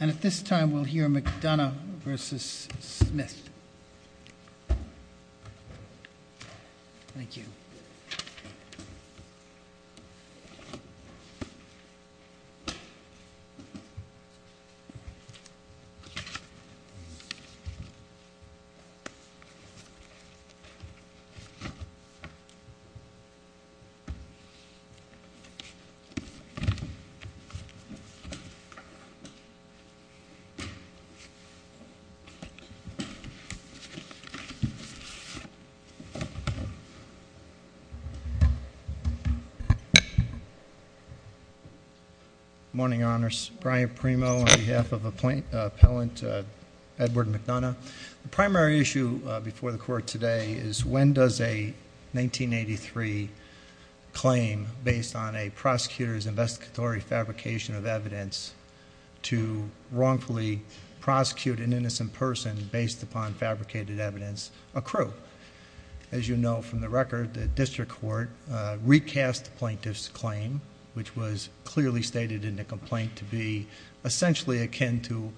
And at this time, we'll hear McDonough v. Smith. Thank you. Morning, Honors. Brian Premo on behalf of Appellant Edward McDonough. The primary issue before the Court today is when does a 1983 claim based on a prosecutor's investigatory fabrication of evidence to wrongfully prosecute an innocent person based upon fabricated evidence accrue? As you know from the record, the District Court recast the plaintiff's claim, which was clearly stated in the complaint to be essentially akin to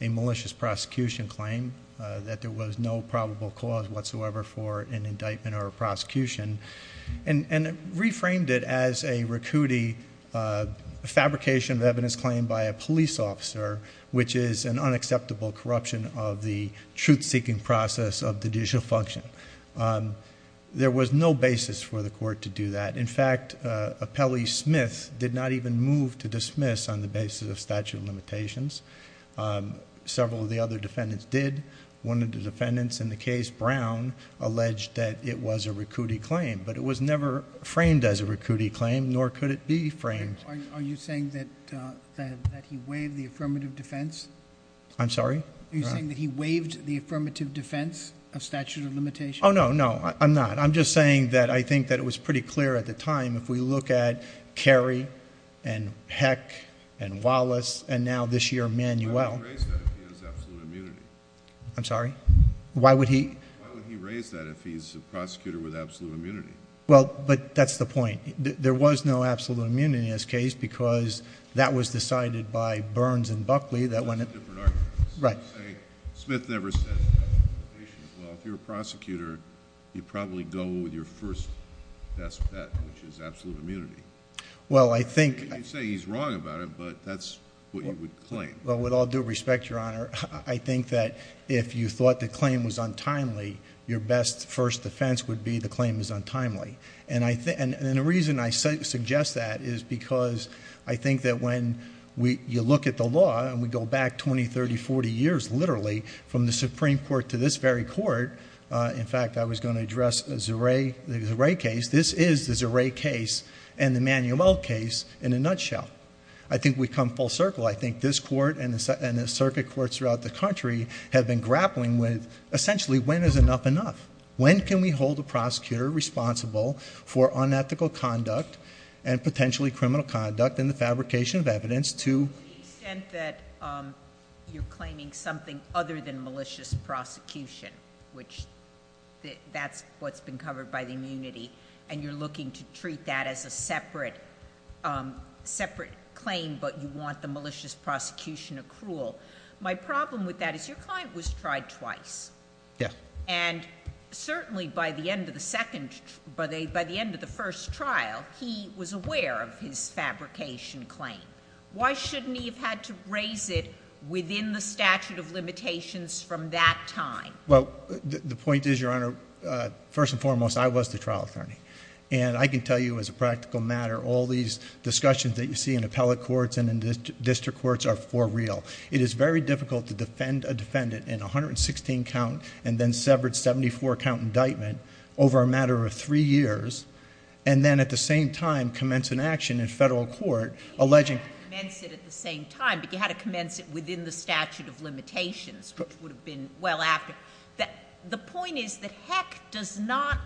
a malicious prosecution claim, that there was no probable cause whatsoever for an indictment or a prosecution, and reframed it as a RACUTI fabrication of evidence claimed by a police officer, which is an unacceptable corruption of the truth-seeking process of judicial function. There was no basis for the Court to do that. In fact, Appellee Smith did not even move to dismiss on the basis of statute of limitations. Several of the other defendants did. One of the defendants in the case, Brown, alleged that it was a RACUTI claim, but it was never framed as a RACUTI claim, nor could it be framed. Are you saying that he waived the affirmative defense? I'm sorry? Are you saying that he waived the affirmative defense of statute of limitations? Oh, no, no, I'm not. I'm saying that I think that it was pretty clear at the time, if we look at Carey and Heck and Wallace and now this year Manuel— Why would he raise that if he has absolute immunity? I'm sorry? Why would he— Why would he raise that if he's a prosecutor with absolute immunity? Well, but that's the point. There was no absolute immunity in this case because that was decided by Burns and Buckley that when— That's a different argument. Right. I would say Smith never said statute of limitations. Well, if you're a prosecutor, you probably go with your first best bet, which is absolute immunity. Well, I think— You can say he's wrong about it, but that's what you would claim. Well, with all due respect, Your Honor, I think that if you thought the claim was untimely, your best first defense would be the claim is untimely. And the reason I suggest that is because I think that when you look at the law and we go back 20, 30, 40 years, literally, from the Supreme Court to this very court— In fact, I was going to address the Zeray case. This is the Zeray case and the Manuel case in a nutshell. I think we come full circle. I think this court and the circuit courts throughout the country have been grappling with essentially when is enough enough? When can we hold a prosecutor responsible for unethical conduct and potentially criminal conduct in the fabrication of evidence to— To the extent that you're claiming something other than malicious prosecution, which that's what's been covered by the immunity, and you're looking to treat that as a separate claim, but you want the malicious prosecution accrual. My problem with that is your client was tried twice. Yeah. And certainly by the end of the second—by the end of the first trial, he was aware of his fabrication claim. Why shouldn't he have had to raise it within the statute of limitations from that time? Well, the point is, Your Honor, first and foremost, I was the trial attorney. And I can tell you as a practical matter, all these discussions that you see in appellate courts and in district courts are for real. It is very difficult to defend a defendant in a 116-count and then severed 74-count indictment over a matter of three years and then at the same time commence an action in federal court alleging— You had to commence it at the same time, but you had to commence it within the statute of limitations, which would have been well after. The point is that Heck does not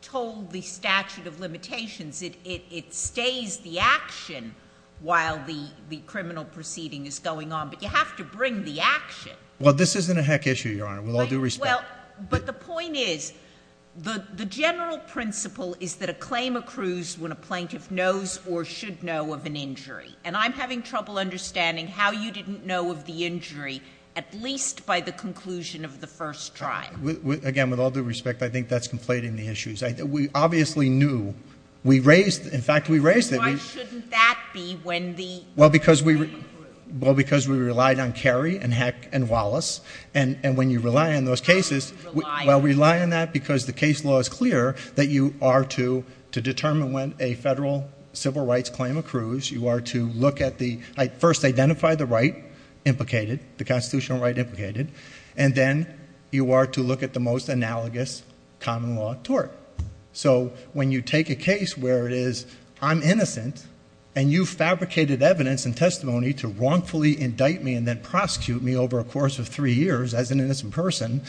toll the statute of limitations. It stays the action while the criminal proceeding is going on, but you have to bring the action. Well, this isn't a Heck issue, Your Honor, with all due respect. But the point is, the general principle is that a claim accrues when a plaintiff knows or should know of an injury. And I'm having trouble understanding how you didn't know of the injury at least by the conclusion of the first trial. Again, with all due respect, I think that's conflating the issues. We obviously knew. We raised—in fact, we raised it. Why shouldn't that be when the claim accrues? Well, because we relied on Kerry and Heck and Wallace. How do you rely on them? Well, we rely on that because the case law is clear that you are to determine when a federal civil rights claim accrues. You are to look at the—first identify the right implicated, the constitutional right implicated. And then you are to look at the most analogous common law tort. So when you take a case where it is I'm innocent and you fabricated evidence and testimony to wrongfully indict me and then prosecute me over a course of three years as an innocent person,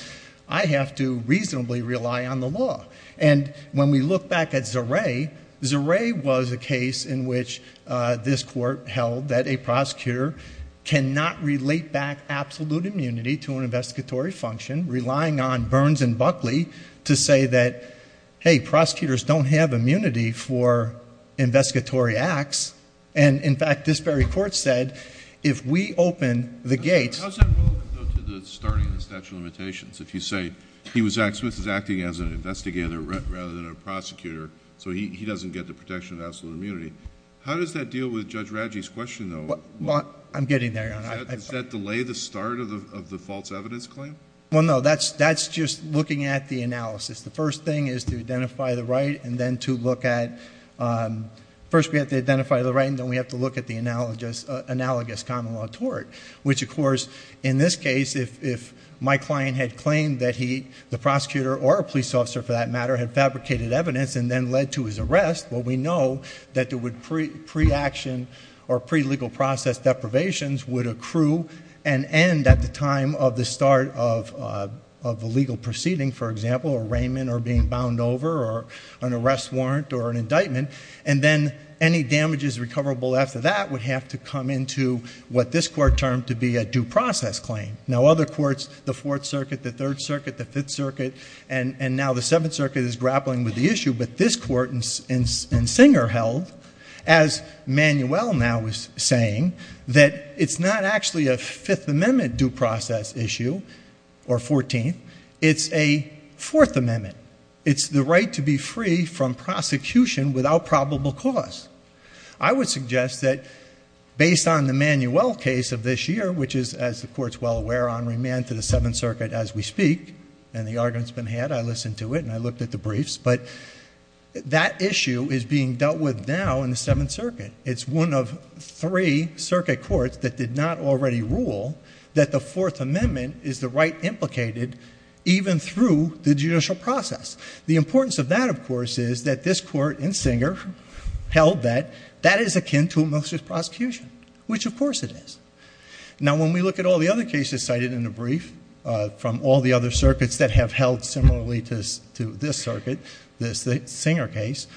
I have to reasonably rely on the law. And when we look back at Zeray, Zeray was a case in which this court held that a prosecutor cannot relate back absolute immunity to an investigatory function, relying on Burns and Buckley to say that, hey, prosecutors don't have immunity for investigatory acts. And, in fact, this very court said, if we open the gates— How is that relevant, though, to the starting of the statute of limitations? If you say he was acting as an investigator rather than a prosecutor, so he doesn't get the protection of absolute immunity. How does that deal with Judge Radji's question, though? I'm getting there, Your Honor. Does that delay the start of the false evidence claim? Well, no. That's just looking at the analysis. The first thing is to identify the right and then to look at—first we have to identify the right, and then we have to look at the analogous common law tort, which, of course, in this case, if my client had claimed that the prosecutor or a police officer, for that matter, had fabricated evidence and then led to his arrest, well, we know that pre-action or pre-legal process deprivations would accrue and end at the time of the start of a legal proceeding, for example, or Raymond or being bound over or an arrest warrant or an indictment, and then any damages recoverable after that would have to come into what this Court termed to be a due process claim. Now, other courts, the Fourth Circuit, the Third Circuit, the Fifth Circuit, and now the Seventh Circuit, is grappling with the issue, but this Court in Singer held, as Manuel now is saying, that it's not actually a Fifth Amendment due process issue or Fourteenth. It's a Fourth Amendment. It's the right to be free from prosecution without probable cause. I would suggest that based on the Manuel case of this year, which is, as the Court's well aware, on remand to the Seventh Circuit as we speak, and the argument's been had. I listened to it, and I looked at the briefs, but that issue is being dealt with now in the Seventh Circuit. It's one of three circuit courts that did not already rule that the Fourth Amendment is the right implicated even through the judicial process. The importance of that, of course, is that this Court in Singer held that that is akin to a malicious prosecution, which, of course, it is. Now, when we look at all the other cases cited in the brief from all the other circuits that have held similarly to this circuit, the Singer case,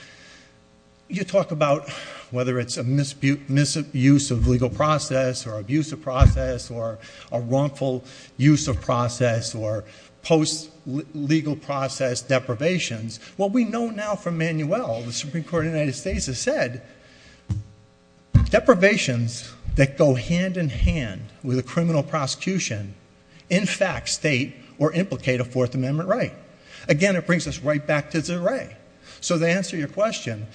you talk about whether it's a misuse of legal process or abusive process or a wrongful use of process or post-legal process deprivations. What we know now from Manuel, the Supreme Court of the United States has said, deprivations that go hand-in-hand with a criminal prosecution in fact state or implicate a Fourth Amendment right. Again, it brings us right back to Zeray. So to answer your question,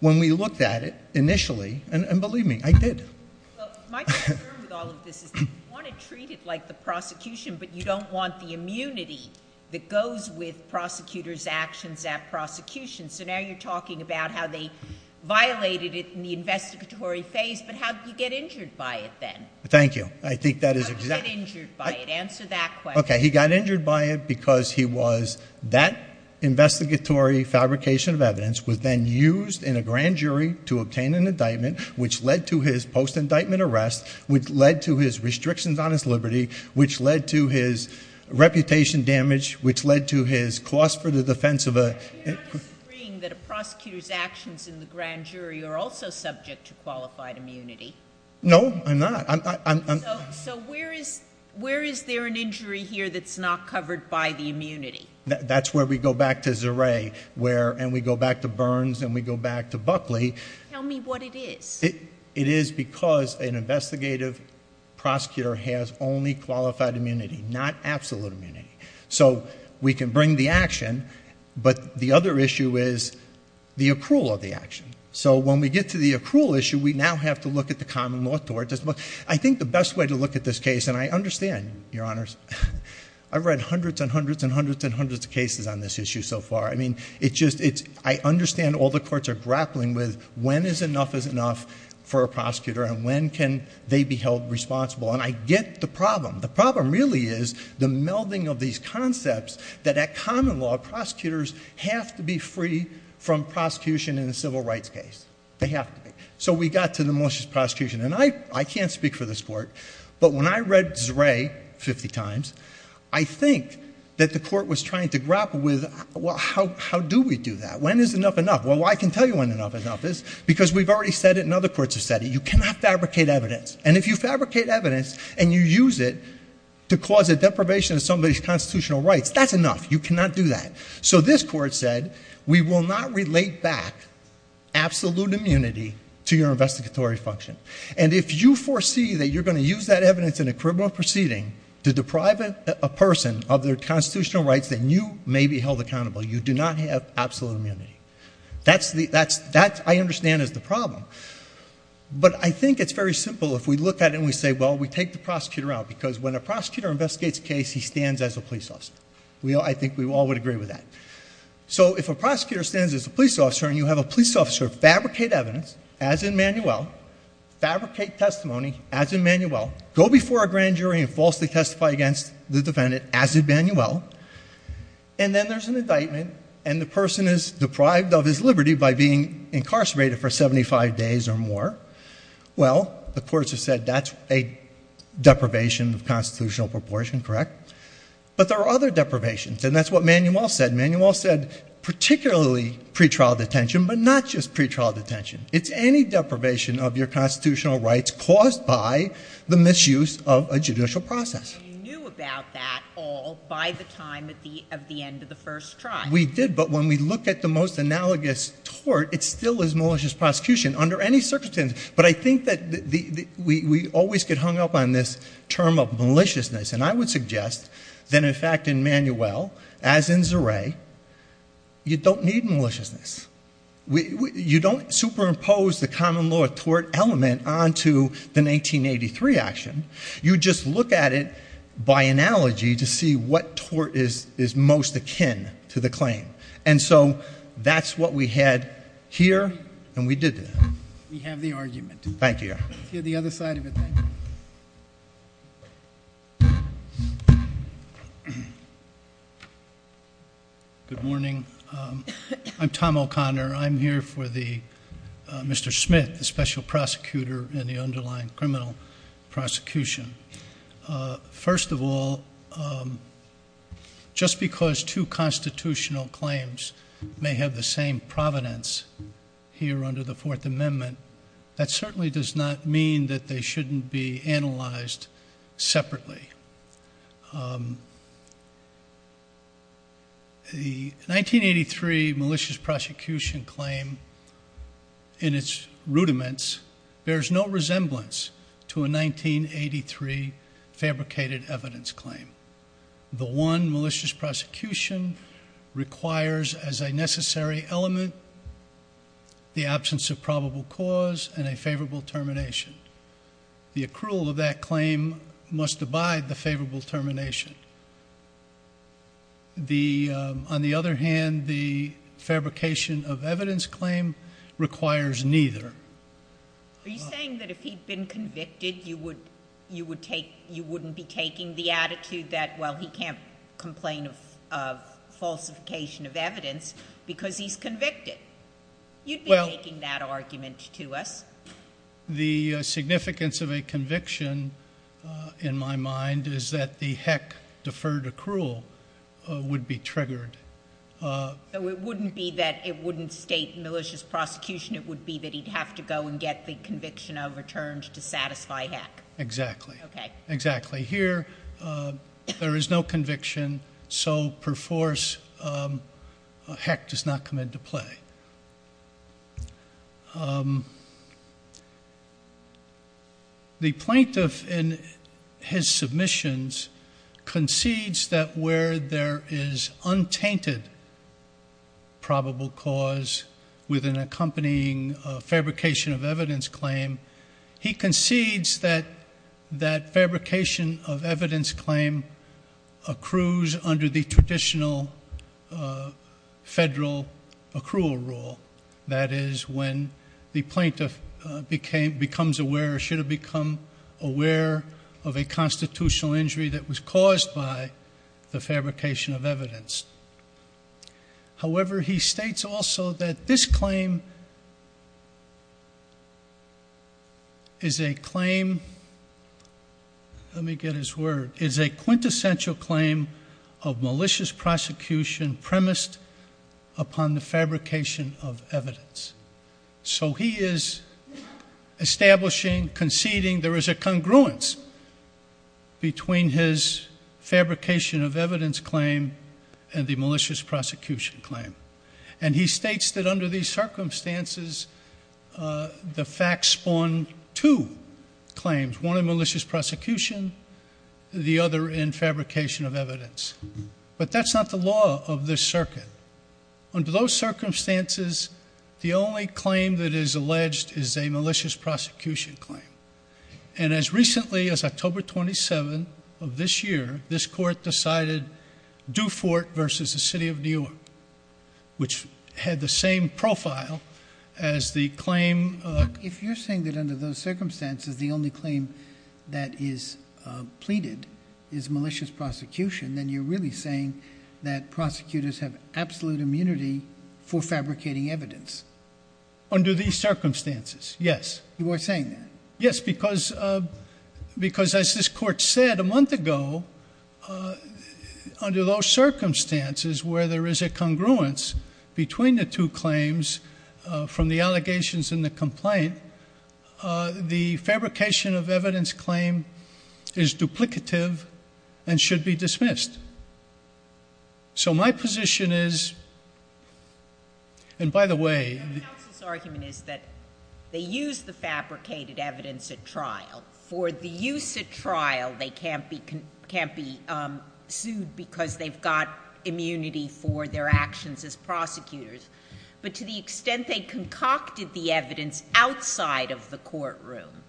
when we looked at it initially, and believe me, I did. Well, my concern with all of this is you want to treat it like the prosecution, but you don't want the immunity that goes with prosecutors' actions at prosecution. So now you're talking about how they violated it in the investigatory phase, but how did you get injured by it then? Thank you. I think that is exactly— How did you get injured by it? Answer that question. Okay, he got injured by it because he was—that investigatory fabrication of evidence was then used in a grand jury to obtain an indictment, which led to his post-indictment arrest, which led to his restrictions on his liberty, which led to his reputation damage, which led to his cost for the defense of a— You're not disagreeing that a prosecutor's actions in the grand jury are also subject to qualified immunity? No, I'm not. So where is there an injury here that's not covered by the immunity? That's where we go back to Zerais, and we go back to Burns, and we go back to Buckley. Tell me what it is. It is because an investigative prosecutor has only qualified immunity, not absolute immunity. So we can bring the action, but the other issue is the accrual of the action. So when we get to the accrual issue, we now have to look at the common law. I think the best way to look at this case, and I understand, Your Honors, I've read hundreds and hundreds and hundreds and hundreds of cases on this issue so far. I understand all the courts are grappling with when is enough is enough for a prosecutor and when can they be held responsible, and I get the problem. The problem really is the melding of these concepts that at common law, prosecutors have to be free from prosecution in a civil rights case. They have to be. So we got to the most just prosecution, and I can't speak for this Court, but when I read Zerais 50 times, I think that the Court was trying to grapple with, well, how do we do that? When is enough enough? Well, I can tell you when enough is enough is because we've already said it, and other courts have said it. You cannot fabricate evidence, and if you fabricate evidence and you use it to cause a deprivation of somebody's constitutional rights, that's enough. You cannot do that. So this Court said we will not relate back absolute immunity to your investigatory function, and if you foresee that you're going to use that evidence in a criminal proceeding to deprive a person of their constitutional rights, then you may be held accountable. You do not have absolute immunity. That, I understand, is the problem, but I think it's very simple if we look at it and we say, well, we take the prosecutor out, because when a prosecutor investigates a case, he stands as a police officer. I think we all would agree with that. So if a prosecutor stands as a police officer and you have a police officer fabricate evidence, as in Manuel, fabricate testimony, as in Manuel, go before a grand jury and falsely testify against the defendant, as in Manuel, and then there's an indictment and the person is deprived of his liberty by being incarcerated for 75 days or more, well, the courts have said that's a deprivation of constitutional proportion, correct? But there are other deprivations, and that's what Manuel said. Manuel said particularly pretrial detention, but not just pretrial detention. It's any deprivation of your constitutional rights caused by the misuse of a judicial process. We did, but when we look at the most analogous tort, it still is malicious prosecution. Under any circumstances, but I think that we always get hung up on this term of maliciousness, and I would suggest that, in fact, in Manuel, as in Zeray, you don't need maliciousness. You don't superimpose the common law tort element onto the 1983 action. You just look at it by analogy to see what tort is most akin to the claim. And so that's what we had here, and we did that. We have the argument. Thank you. Let's hear the other side of it then. Good morning. I'm Tom O'Connor. I'm here for Mr. Smith, the special prosecutor in the underlying criminal prosecution. First of all, just because two constitutional claims may have the same providence here under the Fourth Amendment, that certainly does not mean that they shouldn't be analyzed separately. The 1983 malicious prosecution claim in its rudiments bears no resemblance to a 1983 fabricated evidence claim. The one malicious prosecution requires as a necessary element the absence of probable cause and a favorable termination. The accrual of that claim must abide the favorable termination. On the other hand, the fabrication of evidence claim requires neither. Are you saying that if he'd been convicted, you wouldn't be taking the attitude that, well, he can't complain of falsification of evidence because he's convicted? You'd be making that argument to us. The significance of a conviction, in my mind, is that the heck deferred accrual would be triggered. So it wouldn't be that it wouldn't state malicious prosecution. It would be that he'd have to go and get the conviction overturned to satisfy heck. Exactly. Okay. Exactly. Here, there is no conviction, so per force, heck does not come into play. The plaintiff, in his submissions, concedes that where there is untainted probable cause with an accompanying fabrication of evidence claim, he concedes that that fabrication of evidence claim accrues under the traditional federal accrual rule. That is, when the plaintiff becomes aware or should have become aware of a constitutional injury that was caused by the fabrication of evidence. However, he states also that this claim is a claim, let me get his word, is a quintessential claim of malicious prosecution premised upon the fabrication of evidence. So he is establishing, conceding there is a congruence between his fabrication of evidence claim and the malicious prosecution claim. And he states that under these circumstances, the facts spawn two claims. One in malicious prosecution, the other in fabrication of evidence. But that's not the law of this circuit. Under those circumstances, the only claim that is alleged is a malicious prosecution claim. And as recently as October 27 of this year, this court decided Dufort versus the city of New York, which had the same profile as the claim. If you're saying that under those circumstances, the only claim that is pleaded is malicious prosecution, then you're really saying that prosecutors have absolute immunity for fabricating evidence. Under these circumstances, yes. You are saying that? Yes, because as this court said a month ago, under those circumstances where there is a congruence between the two claims from the allegations and the complaint, the fabrication of evidence claim is duplicative and should be dismissed. So my position is, and by the way... The counsel's argument is that they use the fabricated evidence at trial. For the use at trial, they can't be sued because they've got immunity for their actions as prosecutors. But to the extent they concocted the evidence outside of the courtroom,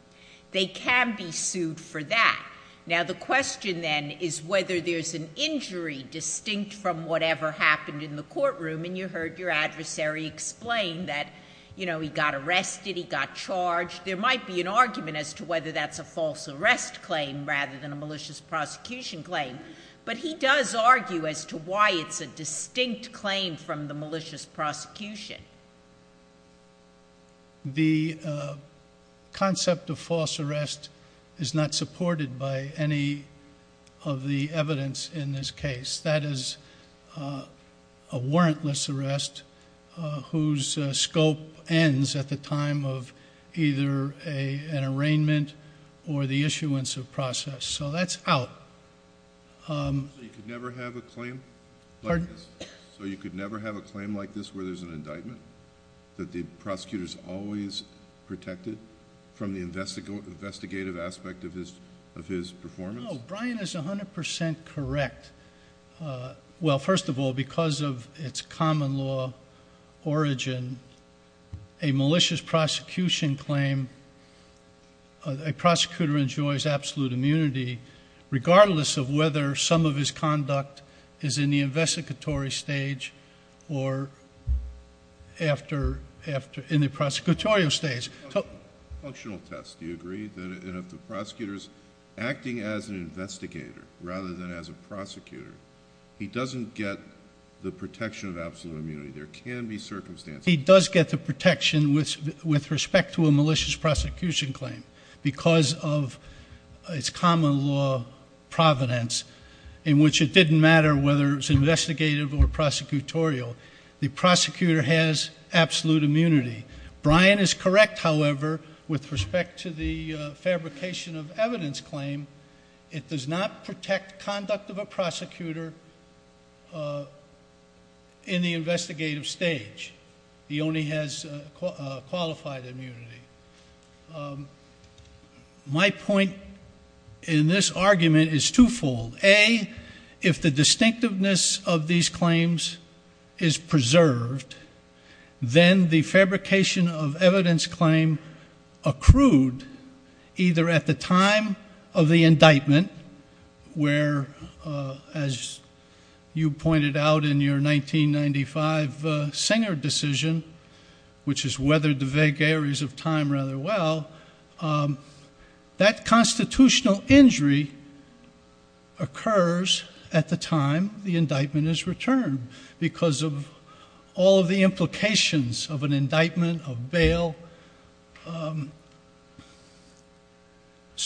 they can be sued for that. Now, the question then is whether there's an injury distinct from whatever happened in the courtroom. And you heard your adversary explain that, you know, he got arrested, he got charged. There might be an argument as to whether that's a false arrest claim rather than a malicious prosecution claim. But he does argue as to why it's a distinct claim from the malicious prosecution. The concept of false arrest is not supported by any of the evidence in this case. That is a warrantless arrest whose scope ends at the time of either an arraignment or the issuance of process. So that's out. So you could never have a claim like this where there's an indictment? That the prosecutor's always protected from the investigative aspect of his performance? No, Brian is 100% correct. Well, first of all, because of its common law origin, a malicious prosecution claim, a prosecutor enjoys absolute immunity regardless of whether some of his conduct is in the investigatory stage or in the prosecutorial stage. Functional test, do you agree? And if the prosecutor's acting as an investigator rather than as a prosecutor, he doesn't get the protection of absolute immunity. There can be circumstances. He does get the protection with respect to a malicious prosecution claim because of its common law providence in which it didn't matter whether it was investigative or prosecutorial. The prosecutor has absolute immunity. Brian is correct, however, with respect to the fabrication of evidence claim. It does not protect conduct of a prosecutor in the investigative stage. He only has qualified immunity. My point in this argument is twofold. A, if the distinctiveness of these claims is preserved, then the fabrication of evidence claim accrued either at the time of the indictment, where, as you pointed out in your 1995 Singer decision, which has weathered the vague areas of time rather well, that constitutional injury occurs at the time the indictment is returned because of all of the implications of an indictment, of bail,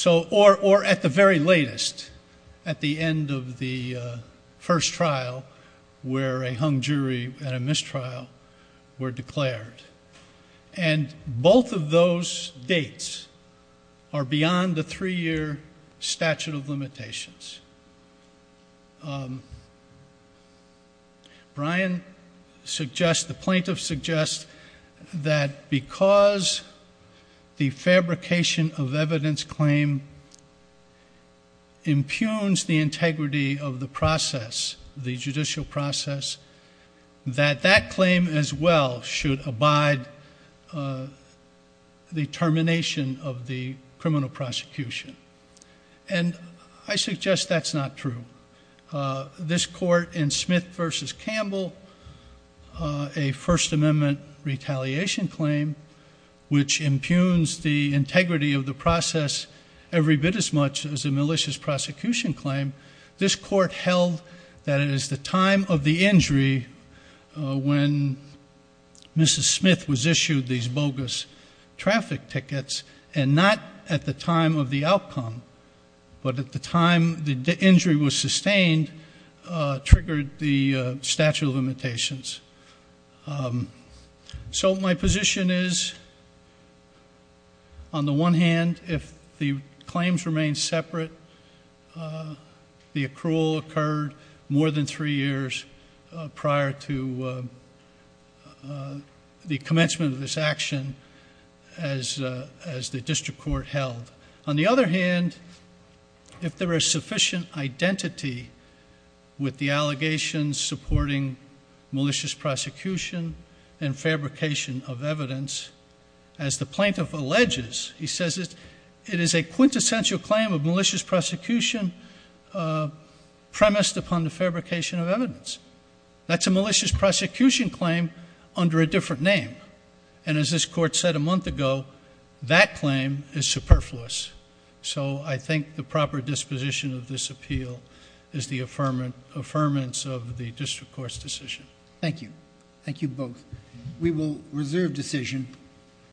or at the very latest, at the end of the first trial where a hung jury and a mistrial were declared. And both of those dates are beyond the three-year statute of limitations. Brian suggests, the plaintiff suggests, that because the fabrication of evidence claim impugns the integrity of the process, the judicial process, that that claim as well should abide the termination of the criminal prosecution. And I suggest that's not true. This court in Smith v. Campbell, a First Amendment retaliation claim, which impugns the integrity of the process every bit as much as a malicious prosecution claim, this court held that it is the time of the injury when Mrs. Smith was issued these bogus traffic tickets and not at the time of the outcome, but at the time the injury was sustained, triggered the statute of limitations. So my position is, on the one hand, if the claims remain separate, the accrual occurred more than three years prior to the commencement of this action as the district court held. On the other hand, if there is sufficient identity with the allegations supporting malicious prosecution and fabrication of evidence, as the plaintiff alleges, he says it is a quintessential claim of malicious prosecution premised upon the fabrication of evidence. That's a malicious prosecution claim under a different name. And as this court said a month ago, that claim is superfluous. So I think the proper disposition of this appeal is the affirmance of the district court's decision. Thank you. Thank you both. We will reserve decision.